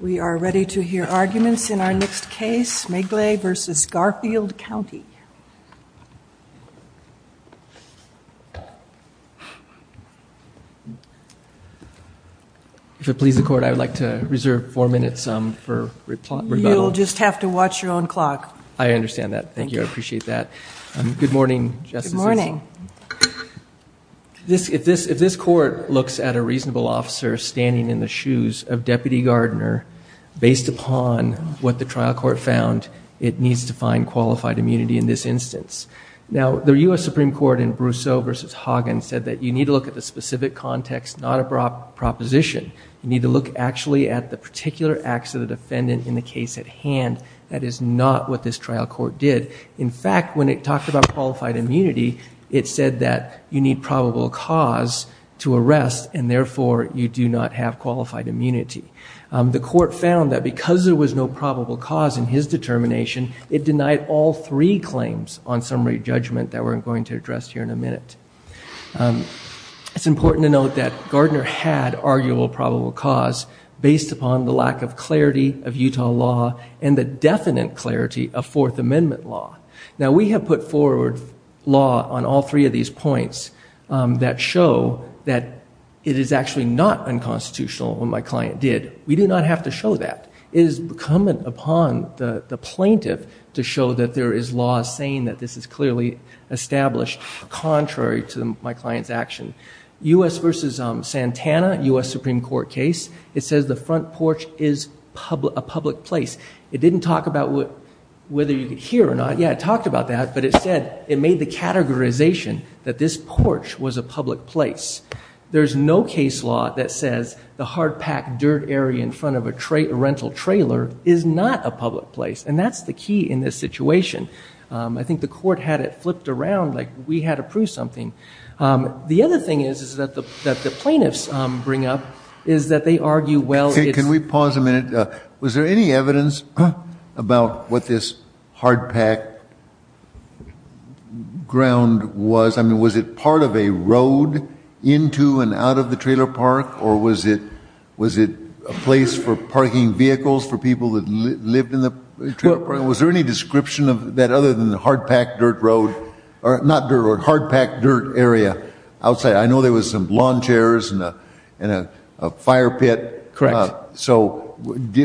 We are ready to hear arguments in our next case, Mglej v. Garfield County. If it pleases the Court, I would like to reserve four minutes for rebuttal. You'll just have to watch your own clock. I understand that. Thank you. I appreciate that. Good morning, Justices. Good morning. If this Court looks at a reasonable officer standing in the shoes of Deputy Gardner, based upon what the trial court found, it needs to find qualified immunity in this instance. Now, the U.S. Supreme Court in Brousseau v. Hagen said that you need to look at the specific context, not a proposition. You need to look actually at the particular acts of the defendant in the case at hand. That is not what this trial court did. In fact, when it talked about qualified immunity, it said that you need probable cause to arrest, and therefore you do not have qualified immunity. The Court found that because there was no probable cause in his determination, it denied all three claims on summary judgment that we're going to address here in a minute. It's important to note that Gardner had arguable probable cause based upon the lack of clarity of Utah law and the definite clarity of Fourth Amendment law. Now, we have put forward law on all three of these points that show that it is actually not unconstitutional, what my client did. We do not have to show that. It is incumbent upon the plaintiff to show that there is law saying that this is clearly established, contrary to my client's action. U.S. v. Santana, U.S. Supreme Court case, it says the front porch is a public place. It didn't talk about whether you could hear or not. Yeah, it talked about that, but it said it made the categorization that this porch was a public place. There's no case law that says the hard-packed dirt area in front of a rental trailer is not a public place, and that's the key in this situation. I think the Court had it flipped around like we had to prove something. The other thing is that the plaintiffs bring up is that they argue, well, it's- about what this hard-packed ground was. I mean, was it part of a road into and out of the trailer park, or was it a place for parking vehicles for people that lived in the trailer park? Was there any description of that other than the hard-packed dirt road? Not dirt road, hard-packed dirt area outside. I know there was some lawn chairs and a fire pit. Correct. So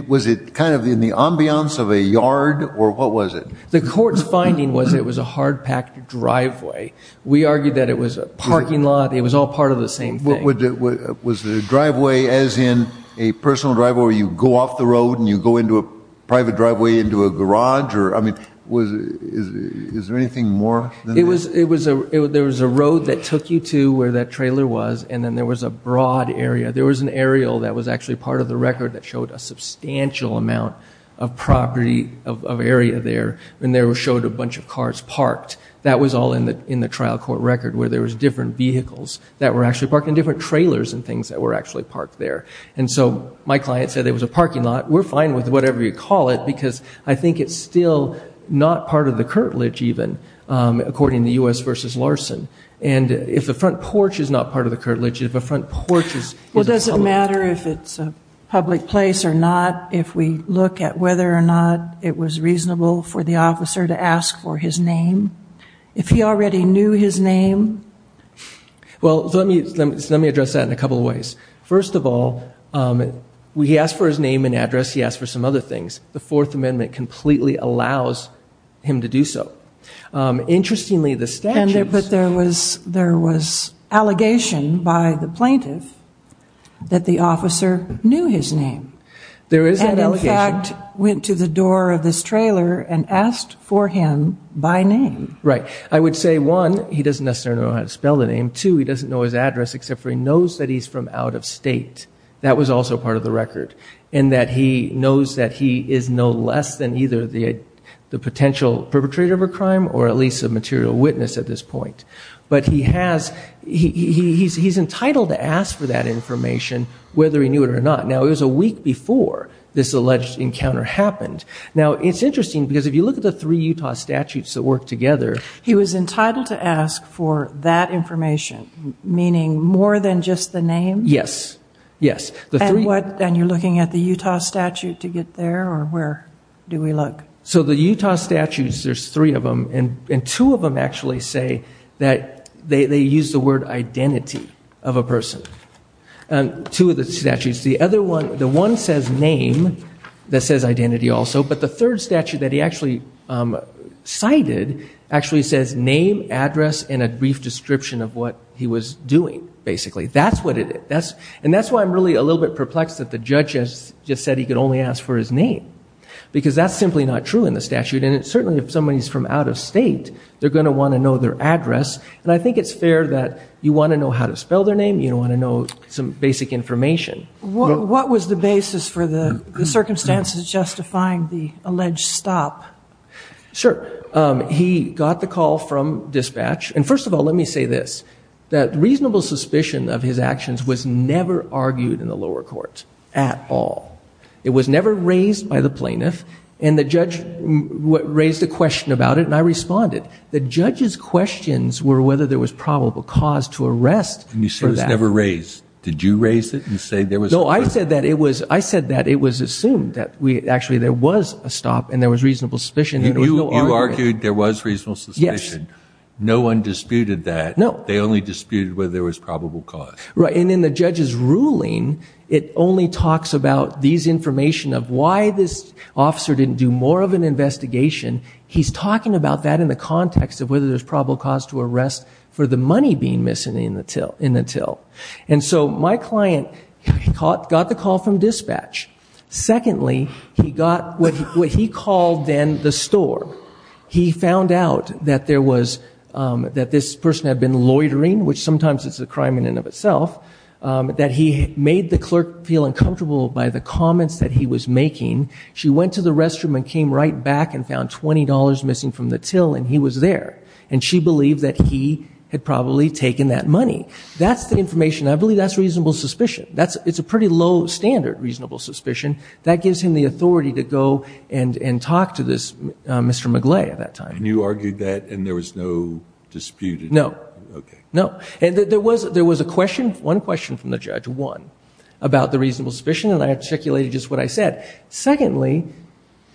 was it kind of in the ambiance of a yard, or what was it? The Court's finding was it was a hard-packed driveway. We argued that it was a parking lot. It was all part of the same thing. Was the driveway as in a personal driveway where you go off the road and you go into a private driveway into a garage? I mean, is there anything more than that? There was a road that took you to where that trailer was, and then there was a broad area. There was an aerial that was actually part of the record that showed a substantial amount of property, of area there, and there was showed a bunch of cars parked. That was all in the trial court record where there was different vehicles that were actually parked and different trailers and things that were actually parked there. And so my client said it was a parking lot. We're fine with whatever you call it because I think it's still not part of the curtilage even, according to U.S. v. Larson. And if the front porch is not part of the curtilage, if a front porch is a public place. Well, does it matter if it's a public place or not if we look at whether or not it was reasonable for the officer to ask for his name? If he already knew his name? Well, let me address that in a couple of ways. First of all, he asked for his name and address. He asked for some other things. The Fourth Amendment completely allows him to do so. Interestingly, the statutes. But there was allegation by the plaintiff that the officer knew his name. There is that allegation. And, in fact, went to the door of this trailer and asked for him by name. Right. I would say, one, he doesn't necessarily know how to spell the name. Two, he doesn't know his address except for he knows that he's from out of state. That was also part of the record. And that he knows that he is no less than either the potential perpetrator of a crime or at least a material witness at this point. But he's entitled to ask for that information whether he knew it or not. Now, it was a week before this alleged encounter happened. Now, it's interesting because if you look at the three Utah statutes that work together. He was entitled to ask for that information, meaning more than just the name? Yes. Yes. And you're looking at the Utah statute to get there? Or where do we look? So the Utah statutes, there's three of them. And two of them actually say that they use the word identity of a person. Two of the statutes. The one says name that says identity also. But the third statute that he actually cited actually says name, address, and a brief description of what he was doing, basically. And that's why I'm really a little bit perplexed that the judge just said he could only ask for his name. Because that's simply not true in the statute. And certainly if somebody's from out of state, they're going to want to know their address. And I think it's fair that you want to know how to spell their name. You want to know some basic information. What was the basis for the circumstances justifying the alleged stop? Sure. He got the call from dispatch. And first of all, let me say this. That reasonable suspicion of his actions was never argued in the lower court at all. It was never raised by the plaintiff. And the judge raised a question about it, and I responded. The judge's questions were whether there was probable cause to arrest for that. And you said it was never raised. Did you raise it and say there was a stop? No, I said that it was assumed that actually there was a stop and there was reasonable suspicion. You argued there was reasonable suspicion. Yes. No one disputed that. No. They only disputed whether there was probable cause. Right. And in the judge's ruling, it only talks about these information of why this officer didn't do more of an investigation. He's talking about that in the context of whether there's probable cause to arrest for the money being missing in the till. And so my client got the call from dispatch. Secondly, he got what he called then the store. So he found out that this person had been loitering, which sometimes is a crime in and of itself, that he made the clerk feel uncomfortable by the comments that he was making. She went to the restroom and came right back and found $20 missing from the till, and he was there. And she believed that he had probably taken that money. That's the information. I believe that's reasonable suspicion. It's a pretty low standard reasonable suspicion. That gives him the authority to go and talk to this Mr. McGlay at that time. And you argued that and there was no dispute? No. Okay. No. And there was a question, one question from the judge, one, about the reasonable suspicion, and I articulated just what I said. Secondly,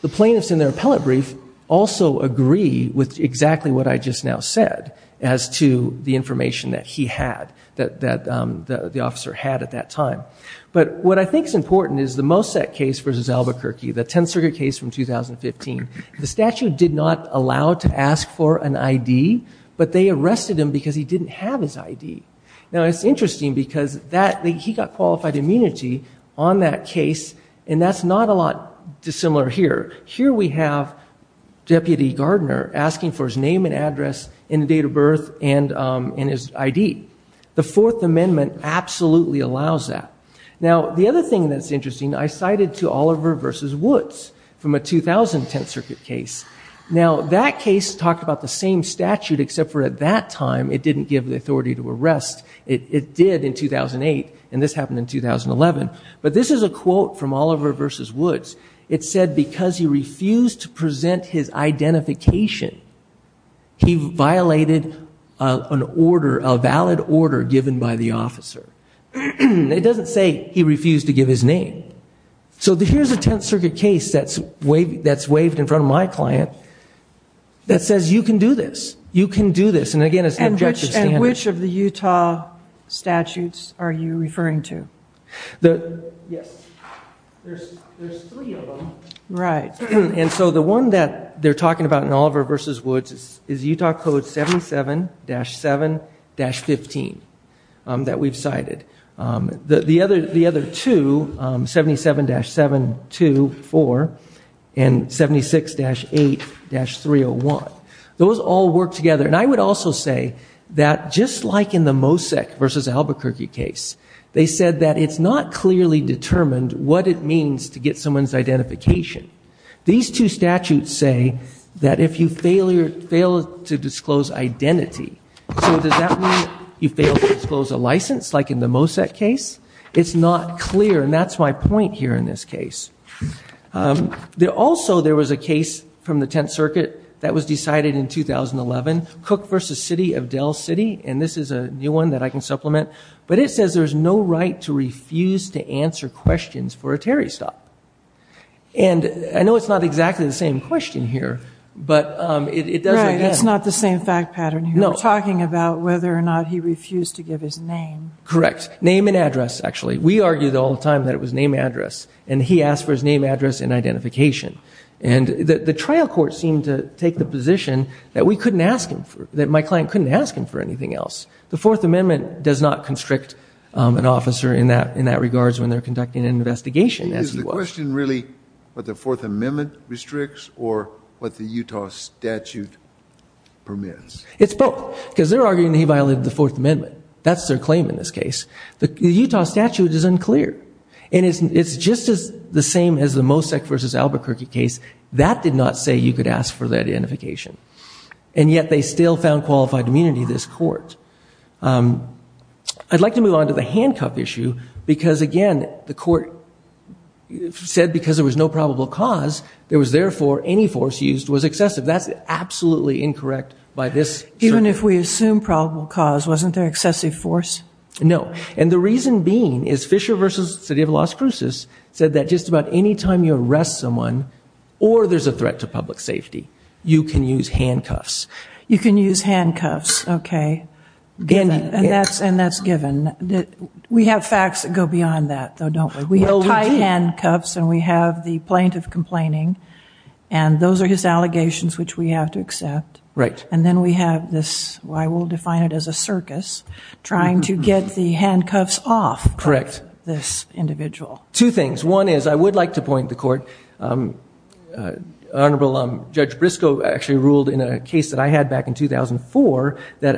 the plaintiffs in their appellate brief also agree with exactly what I just now said as to the information that he had, that the officer had at that time. But what I think is important is the Mossack case versus Albuquerque, the 10th Circuit case from 2015. The statute did not allow to ask for an ID, but they arrested him because he didn't have his ID. Now, it's interesting because he got qualified immunity on that case, and that's not a lot dissimilar here. Here we have Deputy Gardner asking for his name and address and the date of birth and his ID. The Fourth Amendment absolutely allows that. Now, the other thing that's interesting, I cited to Oliver versus Woods from a 2000 10th Circuit case. Now, that case talked about the same statute except for at that time it didn't give the authority to arrest. It did in 2008, and this happened in 2011. But this is a quote from Oliver versus Woods. It said because he refused to present his identification, he violated an order, a valid order given by the officer. It doesn't say he refused to give his name. So here's a 10th Circuit case that's waived in front of my client that says you can do this, you can do this. And, again, it's an objective standard. And which of the Utah statutes are you referring to? Yes. There's three of them. Right. And so the one that they're talking about in Oliver versus Woods is Utah Code 77-7-15 that we've cited. The other two, 77-724 and 76-8-301, those all work together. And I would also say that just like in the Mosek versus Albuquerque case, they said that it's not clearly determined what it means to get someone's identification. These two statutes say that if you fail to disclose identity, so does that mean you fail to disclose a license like in the Mosek case? It's not clear, and that's my point here in this case. Also, there was a case from the 10th Circuit that was decided in 2011, Cook versus City of Dell City. And this is a new one that I can supplement. But it says there's no right to refuse to answer questions for a Terry stop. And I know it's not exactly the same question here, but it does, again. Right. It's not the same fact pattern here. No. We're talking about whether or not he refused to give his name. Correct. Name and address, actually. We argued all the time that it was name and address, and he asked for his name, address, and identification. And the trial court seemed to take the position that we couldn't ask him for, that my client couldn't ask him for anything else. The Fourth Amendment does not constrict an officer in that regard when they're conducting an investigation, as he was. Is the question really what the Fourth Amendment restricts or what the Utah statute permits? It's both, because they're arguing that he violated the Fourth Amendment. That's their claim in this case. The Utah statute is unclear. And it's just as the same as the Mosek versus Albuquerque case. That did not say you could ask for that identification. And yet they still found qualified immunity, this court. I'd like to move on to the handcuff issue, because, again, the court said because there was no probable cause, there was therefore any force used was excessive. That's absolutely incorrect by this circuit. Even if we assume probable cause, wasn't there excessive force? No. And the reason being is Fisher versus the city of Las Cruces said that just about any time you arrest someone or there's a threat to public safety, you can use handcuffs. You can use handcuffs. OK. And that's given. We have facts that go beyond that, though, don't we? We have tied handcuffs and we have the plaintiff complaining. And those are his allegations, which we have to accept. Right. And then we have this, I will define it as a circus, trying to get the handcuffs off of this individual. Correct. Two things. One is I would like to point the court, Honorable Judge Briscoe actually ruled in a case that I had back in 2004 that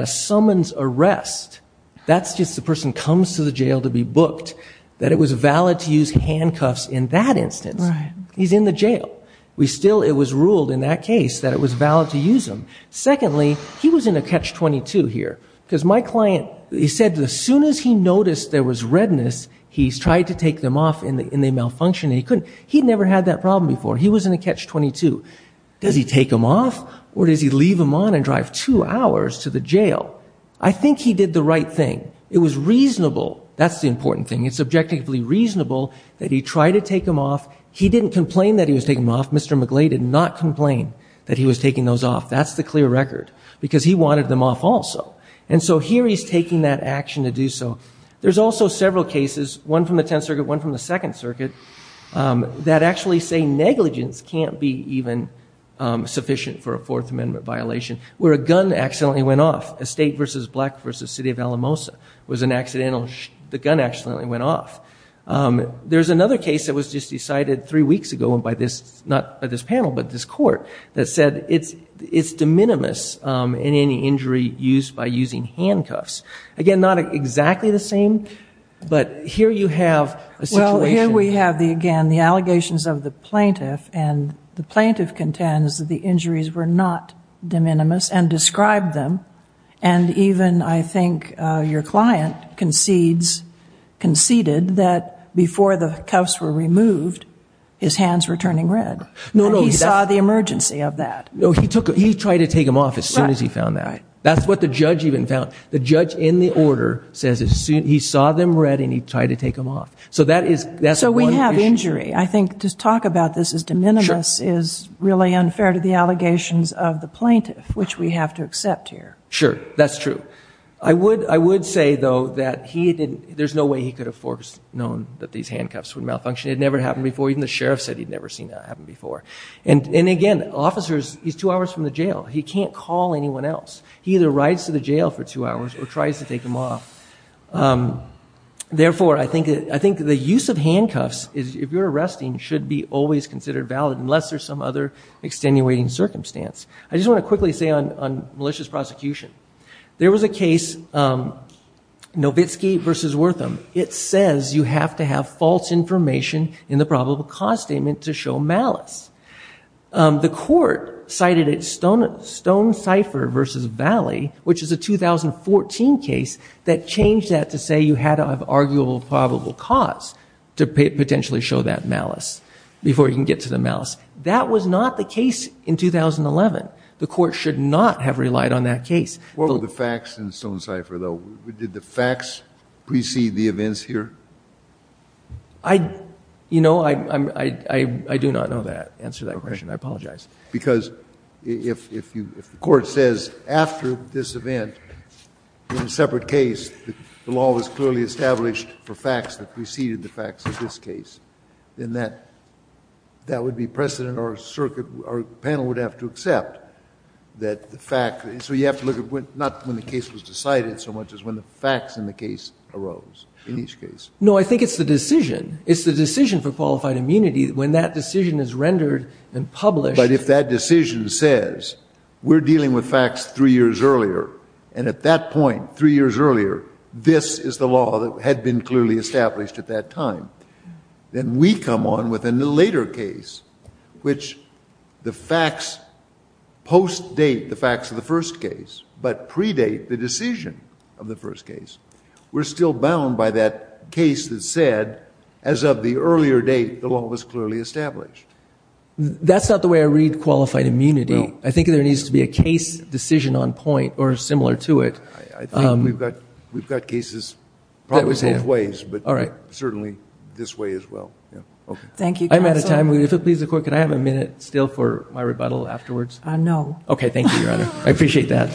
a summons arrest, that's just the person comes to the jail to be booked, that it was valid to use handcuffs in that instance. Right. He's in the jail. We still, it was ruled in that case that it was valid to use them. Secondly, he was in a catch-22 here because my client, he said as soon as he noticed there was redness, he tried to take them off and they malfunctioned and he couldn't. He'd never had that problem before. He was in a catch-22. Does he take them off or does he leave them on and drive two hours to the jail? I think he did the right thing. It was reasonable. That's the important thing. It's objectively reasonable that he tried to take them off. He didn't complain that he was taking them off. Mr. McGlay did not complain that he was taking those off. That's the clear record because he wanted them off also. And so here he's taking that action to do so. There's also several cases, one from the Tenth Circuit, one from the Second Circuit, that actually say negligence can't be even sufficient for a Fourth Amendment violation where a gun accidentally went off. A state versus black versus city of Alamosa was an accidental, the gun accidentally went off. There's another case that was just decided three weeks ago by this, not by this panel, but this court that said it's de minimis in any injury used by using handcuffs. Again, not exactly the same, but here you have a situation. Well, here we have, again, the allegations of the plaintiff, and the plaintiff contends that the injuries were not de minimis and described them. And even, I think, your client conceded that before the cuffs were removed, his hands were turning red. No, no. He saw the emergency of that. No, he tried to take them off as soon as he found that. That's what the judge even found. The judge in the order says he saw them red and he tried to take them off. So that's one issue. So we have injury. I think to talk about this as de minimis is really unfair to the allegations of the plaintiff, which we have to accept here. Sure. That's true. I would say, though, that there's no way he could have foreknown that these handcuffs would malfunction. It had never happened before. Even the sheriff said he'd never seen that happen before. And, again, officers, he's two hours from the jail. He can't call anyone else. He either rides to the jail for two hours or tries to take them off. Therefore, I think the use of handcuffs, if you're arresting, should be always considered valid unless there's some other extenuating circumstance. I just want to quickly say on malicious prosecution, there was a case, Nowitzki v. Wortham. It says you have to have false information in the probable cause statement to show malice. The court cited it, Stonecipher v. Valley, which is a 2014 case, that changed that to say you had to have arguable probable cause to potentially show that malice, before you can get to the malice. That was not the case in 2011. The court should not have relied on that case. Kennedy. What were the facts in Stonecipher, though? Did the facts precede the events here? I, you know, I do not know the answer to that question. I apologize. Because if the court says after this event, in a separate case, the law was clearly established for facts that preceded the facts of this case, then that would be precedent our circuit, our panel would have to accept. That the fact, so you have to look at not when the case was decided so much as when the facts in the case arose in each case. No, I think it's the decision. It's the decision for qualified immunity. When that decision is rendered and published. But if that decision says we're dealing with facts three years earlier, and at that point, three years earlier, this is the law that had been clearly established at that time, then we come on with a later case, which the facts post-date the facts of the first case, but predate the decision of the first case. We're still bound by that case that said, as of the earlier date, the law was clearly established. That's not the way I read qualified immunity. I think there needs to be a case decision on point, or similar to it. I think we've got cases probably both ways. Certainly this way as well. Thank you, counsel. I'm out of time. If it pleases the court, can I have a minute still for my rebuttal afterwards? No. Okay, thank you, Your Honor. I appreciate that.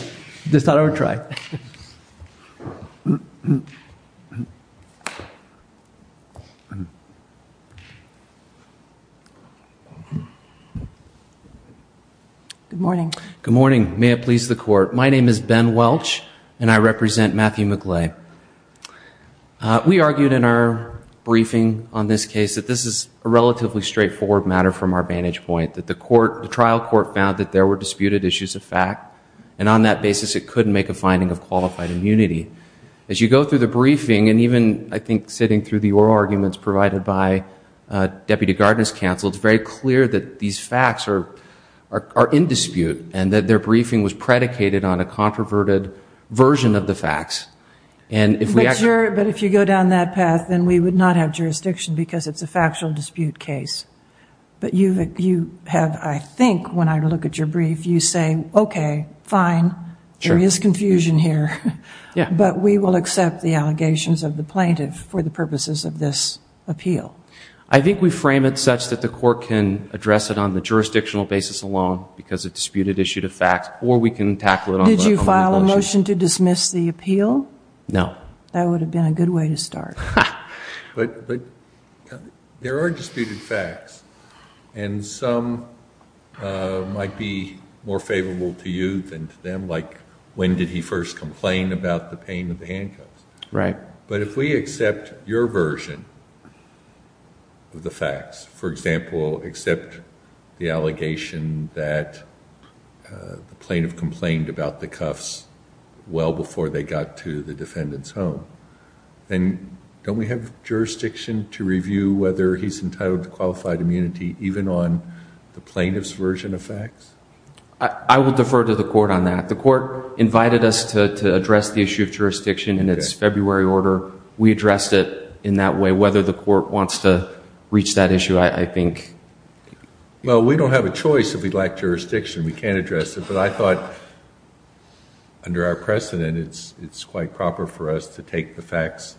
Just thought I would try. Good morning. Good morning. May it please the court. My name is Ben Welch, and I represent Matthew McGlay. We argued in our briefing on this case that this is a relatively straightforward matter from our vantage point, that the trial court found that there were disputed issues of fact, and on that basis it couldn't make a finding of qualified immunity. As you go through the briefing, and even I think sitting through the oral arguments provided by Deputy Gardner's counsel, it's very clear that these facts are in dispute, But if you go down that path, then we would not have jurisdiction because it's a factual dispute case. But you have, I think, when I look at your brief, you say, okay, fine, there is confusion here, but we will accept the allegations of the plaintiff for the purposes of this appeal. I think we frame it such that the court can address it on the jurisdictional basis alone because it's a disputed issue of fact, or we can tackle it... No. That would have been a good way to start. But there are disputed facts, and some might be more favorable to you than to them, like when did he first complain about the pain of the handcuffs? Right. But if we accept your version of the facts, well before they got to the defendant's home, then don't we have jurisdiction to review whether he's entitled to qualified immunity even on the plaintiff's version of facts? I will defer to the court on that. The court invited us to address the issue of jurisdiction in its February order. We addressed it in that way. Whether the court wants to reach that issue, I think... Well, we don't have a choice if we lack jurisdiction. We can't address it. But I thought under our precedent, it's quite proper for us to take the facts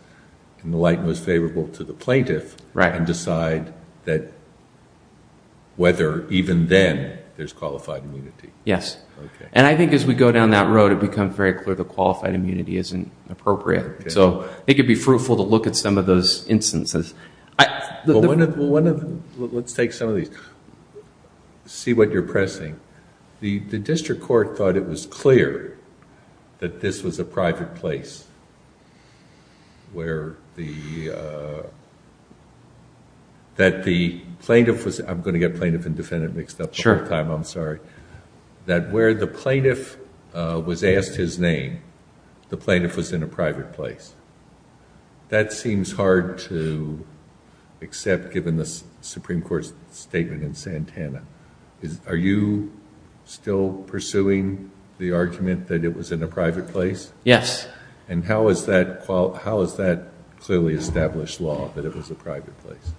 in the light most favorable to the plaintiff... Right.... and decide whether even then there's qualified immunity. Yes. And I think as we go down that road, it becomes very clear the qualified immunity isn't appropriate. So I think it would be fruitful to look at some of those instances. Well, let's take some of these. See what you're pressing. The district court thought it was clear that this was a private place where the... that the plaintiff was... I'm going to get plaintiff and defendant mixed up the whole time. I'm sorry. That where the plaintiff was asked his name, the plaintiff was in a private place. That seems hard to accept given the Supreme Court's statement in Santana. Are you still pursuing the argument that it was in a private place? Yes. And how is that clearly established law, that it was a private place?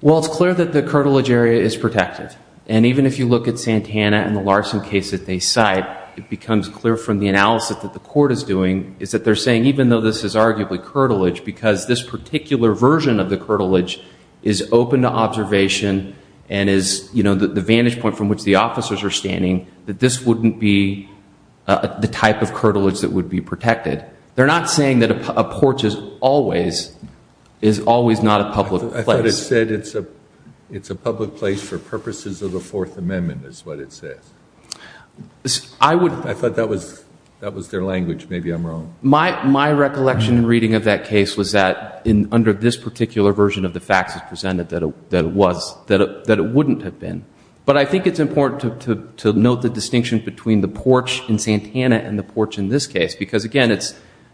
Well, it's clear that the curtilage area is protected. And even if you look at Santana and the Larson case that they cite, it becomes clear from the analysis that the court is doing, is that they're saying even though this is arguably curtilage, because this particular version of the curtilage is open to observation and is the vantage point from which the officers are standing, that this wouldn't be the type of curtilage that would be protected. They're not saying that a porch is always not a public place. I thought it said it's a public place for purposes of the Fourth Amendment, is what it says. I thought that was their language. Maybe I'm wrong. My recollection and reading of that case was that under this particular version of the facts as presented, that it wouldn't have been. But I think it's important to note the distinction between the porch in Santana and the porch in this case because, again,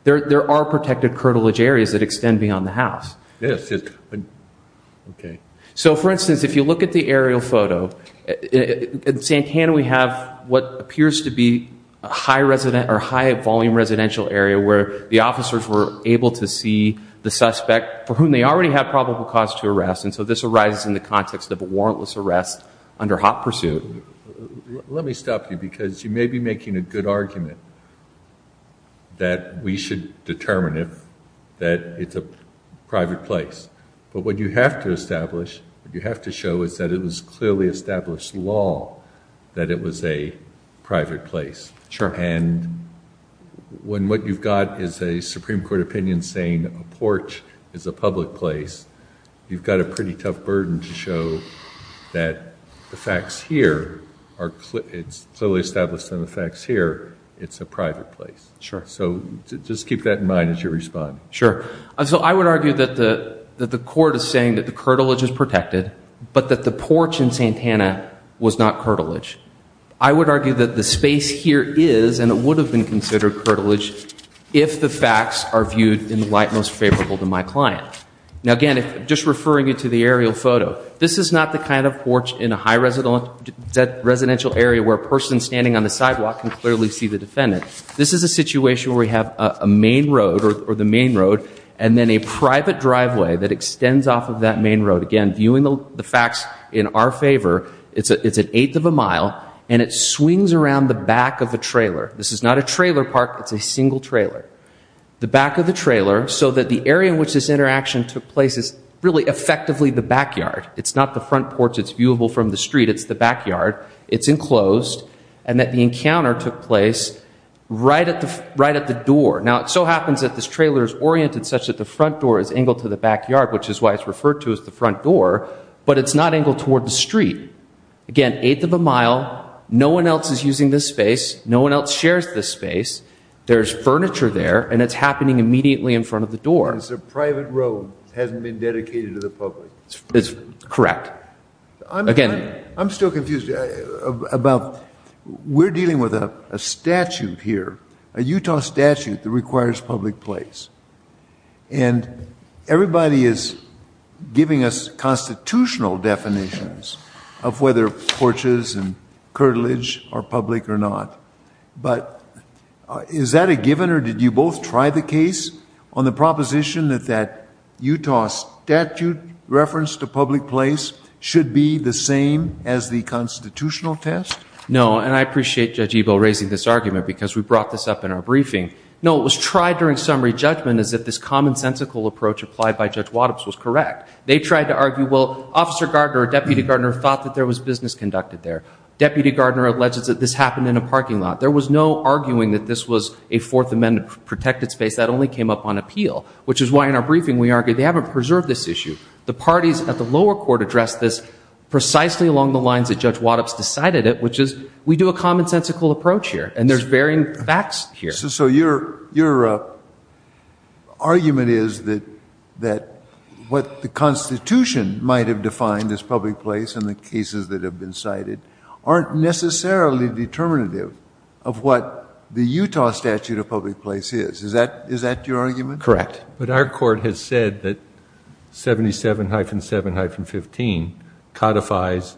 there are protected curtilage areas that extend beyond the house. Yes. Okay. So, for instance, if you look at the aerial photo, in Santana we have what appears to be a high-resident or high-volume residential area where the officers were able to see the suspect for whom they already had probable cause to arrest, and so this arises in the context of a warrantless arrest under hot pursuit. Let me stop you because you may be making a good argument that we should determine that it's a private place. But what you have to establish, what you have to show is that it was clearly established law that it was a private place. Sure. And when what you've got is a Supreme Court opinion saying a porch is a public place, you've got a pretty tough burden to show that the facts here are clearly established and the facts here it's a private place. Sure. So just keep that in mind as you respond. Sure. So I would argue that the court is saying that the curtilage is protected, but that the porch in Santana was not curtilage. I would argue that the space here is, and it would have been considered curtilage if the facts are viewed in the light most favorable to my client. Now, again, just referring you to the aerial photo, this is not the kind of porch in a high residential area where a person standing on the sidewalk can clearly see the defendant. This is a situation where we have a main road or the main road and then a private driveway that extends off of that main road. Again, viewing the facts in our favor, it's an eighth of a mile and it swings around the back of the trailer. This is not a trailer park. It's a single trailer, the back of the trailer so that the area in which this interaction took place is really effectively the backyard. It's not the front porch. It's viewable from the street. It's the backyard it's enclosed. And that the encounter took place right at the right at the door. Now, it so happens that this trailer is oriented such that the front door is angled to the backyard, which is why it's referred to as the front door, but it's not angled toward the street. Again, eighth of a mile. No one else is using this space. No one else shares this space. There's furniture there and it's happening immediately in front of the door. It's a private road. Hasn't been dedicated to the public. It's correct. Again, I'm still confused about we're dealing with a statute here, a Utah statute that requires public place. And everybody is. Giving us constitutional definitions of whether porches and curtilage are public or not. But is that a given, or did you both try the case on the proposition that that Utah statute reference to public place should be the same as the constitutional test? No. And I appreciate judge Igbo raising this argument because we brought this up in our briefing. No, it was tried during summary judgment is that this commonsensical approach applied by judge Wattops was correct. They tried to argue, well, officer Gardner or deputy Gardner thought that there was business conducted there. Deputy Gardner alleges that this happened in a parking lot. There was no arguing that this was a fourth amendment protected space that only came up on appeal, which is why in our briefing, we argue they haven't preserved this issue. The parties at the lower court addressed this precisely along the lines that judge Wattops decided it, which is we do a commonsensical approach here and there's varying facts here. So your, your argument is that, that what the constitution might've defined as public place and the cases that have been cited aren't necessarily determinative of what the Utah statute of public place is. Is that, is that your argument? Correct. But our court has said that 77-7-15 codifies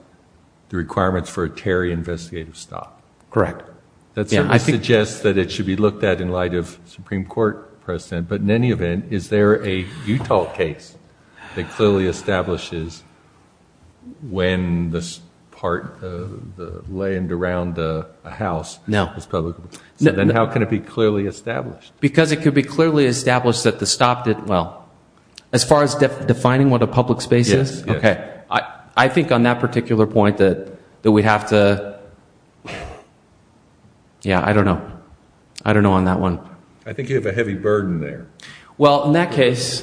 the requirements for a Terry investigative stop. Correct. That suggests that it should be looked at in light of Supreme court precedent. But in any event, is there a Utah case that clearly establishes when this part of the land around the house was publicly, then how can it be clearly established? Because it could be clearly established that the stopped it. Well, as far as defining what a public space is. Okay. I think on that particular point that, that we'd have to, yeah, I don't know. I don't know on that one. I think you have a heavy burden there. Well, in that case,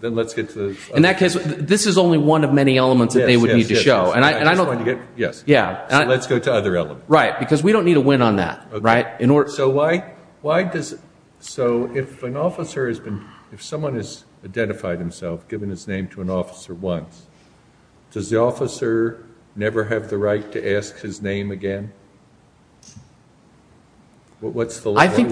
then let's get to the, in that case, this is only one of many elements that they would need to show. And I don't want to get. Yes. Yeah. Let's go to other elements. Right. Because we don't need a win on that. Right. So why, why does, so if an officer has been, if someone has identified himself, given his name to an officer once, does the officer never have the right to ask his name again? What's the line? I think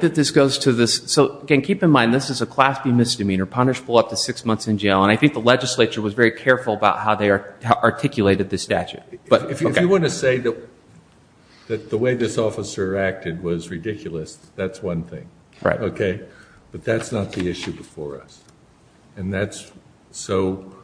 that this goes to this. So again, keep in mind, this is a class B misdemeanor punishable up to six months in jail. And I think the legislature was very careful about how they are articulated this statute. But if you want to say that. The way this officer acted was ridiculous. That's one thing. Right. Okay. But that's not the issue before us. And that's. So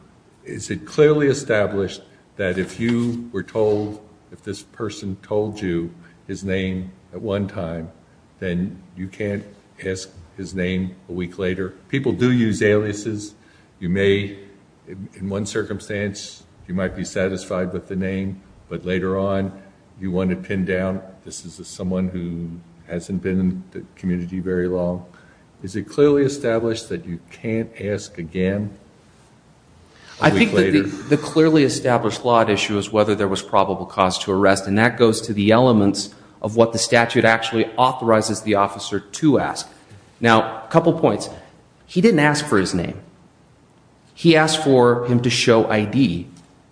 is it clearly established that if you were told, if this person told you his name at one time, then you can't ask his name a week later, You may in one circumstance, you might be satisfied with the name, but later on you want to pin down. This is a someone who hasn't been in the community very long. Is it clearly established that you can't ask again? I think the clearly established lot issue is whether there was probable cause to arrest. And that goes to the elements of what the statute actually authorizes the officer to ask. Now, a couple of points. He didn't ask for his name. He asked for him to show ID.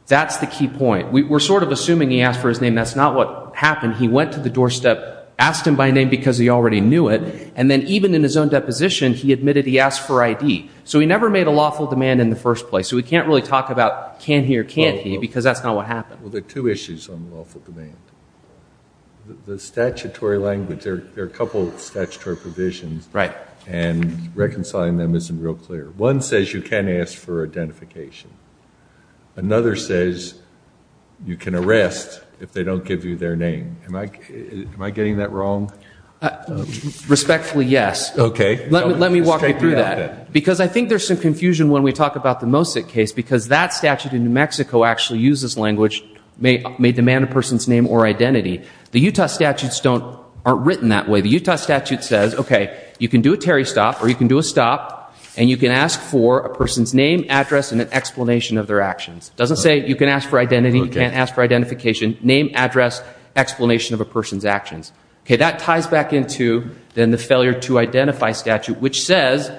That's the key point. We're sort of assuming he asked for his name. That's not what happened. He went to the doorstep, asked him by name because he already knew it. And then even in his own deposition, he admitted he asked for ID. So he never made a lawful demand in the first place. So we can't really talk about can he or can't he, because that's not what happened. Well, there are two issues on lawful demand. The statutory language. There are a couple of statutory provisions. Right. And reconciling them isn't real clear. One says you can ask for identification. Another says you can arrest if they don't give you their name. Am I getting that wrong? Respectfully, yes. Okay. Let me walk you through that. Because I think there's some confusion when we talk about the Mosick case because that statute in New Mexico actually uses language may demand a person's name or identity. The Utah statutes aren't written that way. The Utah statute says, okay, you can do a Terry stop or you can do a stop and you can ask for a person's name, address and an explanation of their actions. It doesn't say you can ask for identity. You can't ask for identification, name, address, explanation of a person's actions. Okay. That ties back into then the failure to identify statute, which says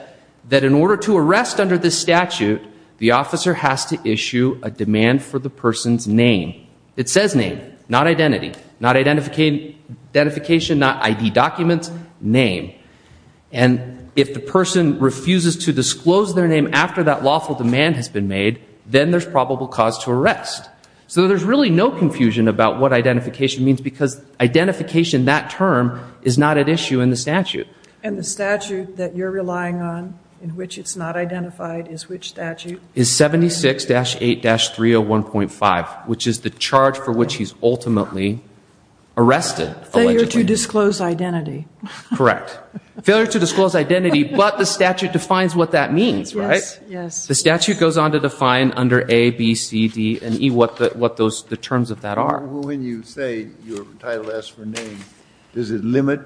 that in order to arrest under this statute, the officer has to issue a demand for the person's name. It says name, not identity, not identification, not ID documents, name. And if the person refuses to disclose their name after that lawful demand has been made, then there's probable cause to arrest. So there's really no confusion about what identification means because identification, that term is not at issue in the statute. And the statute that you're relying on in which it's not identified is which statute is 76 dash eight dash 301.5, which is the charge for which he's ultimately arrested. Failure to disclose identity. Correct. Failure to disclose identity, but the statute defines what that means, right? Yes. The statute goes on to define under A, B, C, D, and E, what the terms of that are. When you say your title asks for name, does it limit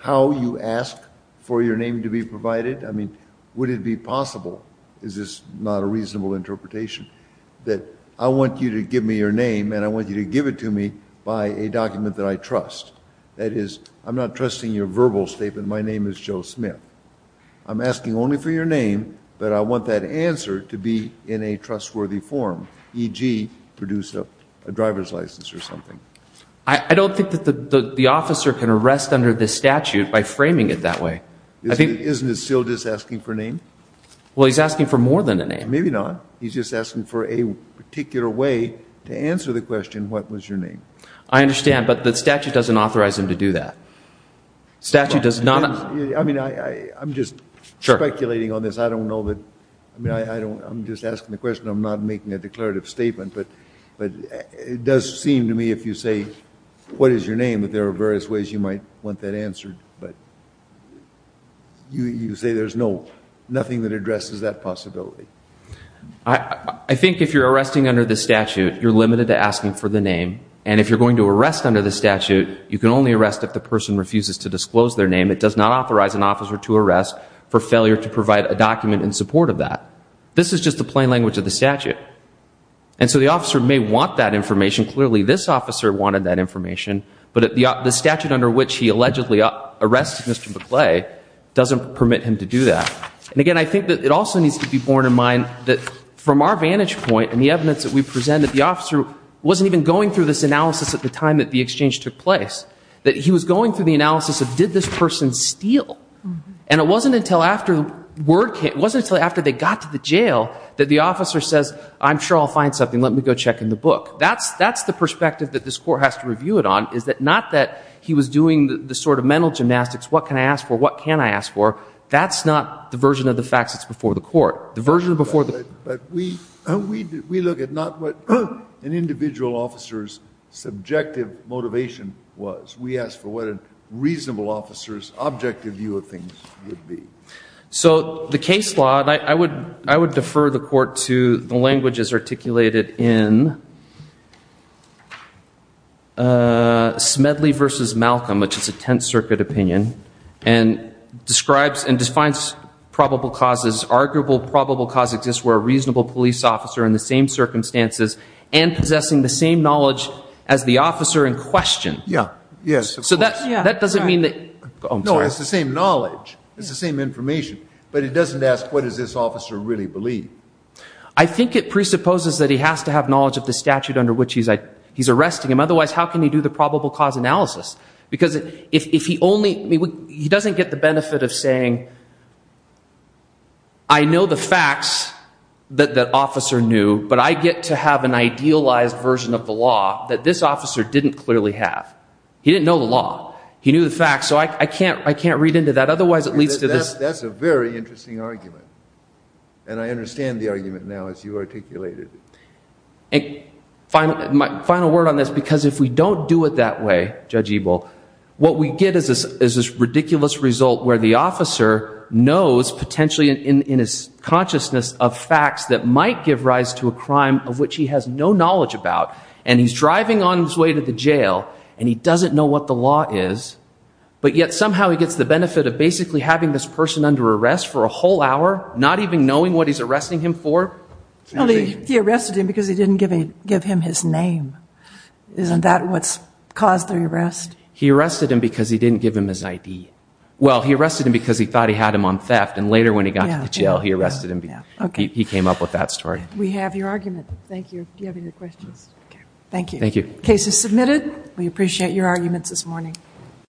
how you ask for your name to be provided? I mean, would it be possible, that I want you to give me your name and I want you to give it to me by a document that I trust. That is, I'm not trusting your verbal statement. My name is Joe Smith. I'm asking only for your name, but I want that answer to be in a trustworthy form, e.g. produce a driver's license or something. I don't think that the, the officer can arrest under this statute by framing it that way. Isn't it still just asking for name? Well, he's asking for more than a name. Maybe not. He's just asking for a particular way to answer the question. What was your name? I understand. But the statute doesn't authorize him to do that. Statute does not. I mean, I'm just speculating on this. I don't know that. I mean, I don't, I'm just asking the question. I'm not making a declarative statement, but it does seem to me, if you say, what is your name, that there are various ways you might want that answered. But you say there's no, nothing that addresses that possibility. I think if you're arresting under the statute, you're limited to asking for the name. And if you're going to arrest under the statute, you can only arrest if the person refuses to disclose their name. It does not authorize an officer to arrest for failure to provide a document in support of that. This is just the plain language of the statute. And so the officer may want that information. Clearly, this officer wanted that information. But the statute under which he allegedly arrested Mr. McClay doesn't permit him to do that. And again, I think that it also needs to be borne in mind that from our vantage point and the evidence that we present, that the officer wasn't even going through this analysis at the time that the exchange took place. That he was going through the analysis of did this person steal? And it wasn't until after the word came, it wasn't until after they got to the jail that the officer says, I'm sure I'll find something. Let me go check in the book. That's the perspective that this court has to review it on, is that not that he was doing the sort of mental gymnastics, what can I ask for, That's not the version of the facts that's before the court. But we look at not what an individual officer's subjective motivation was. We ask for what a reasonable officer's objective view of things would be. So the case law, I would defer the court to the languages articulated in Smedley versus Malcolm, which is a Tenth Circuit opinion, and describes and defines probable causes, arguable probable cause exists where a reasonable police officer in the same circumstances, and possessing the same knowledge as the officer in question. Yeah, yes. So that doesn't mean that, No, it's the same knowledge. It's the same information. But it doesn't ask what does this officer really believe? I think it presupposes that he has to have knowledge of the statute under which he's arresting him. Otherwise, how can he do the probable cause analysis? Because if he only, he doesn't get the benefit of saying, I know the facts that the officer knew, but I get to have an idealized version of the law that this officer didn't clearly have. He didn't know the law. He knew the facts. So I can't read into that. Otherwise, it leads to this. That's a very interesting argument. And I understand the argument now as you articulated it. Final word on this. Because if we don't do it that way, Judge Ebel, what we get is this ridiculous result where the officer knows, potentially in his consciousness, of facts that might give rise to a crime of which he has no knowledge about. And he's driving on his way to the jail, and he doesn't know what the law is. But yet somehow he gets the benefit of basically having this person under arrest for a whole hour, not even knowing what he's arresting him for. He arrested him because he didn't give him his name. Isn't that what caused the arrest? He arrested him because he didn't give him his ID. Well, he arrested him because he thought he had him on theft, and later when he got to jail, he arrested him. He came up with that story. We have your argument. Thank you. Do you have any questions? Thank you. Thank you. Case is submitted. We appreciate your arguments this morning.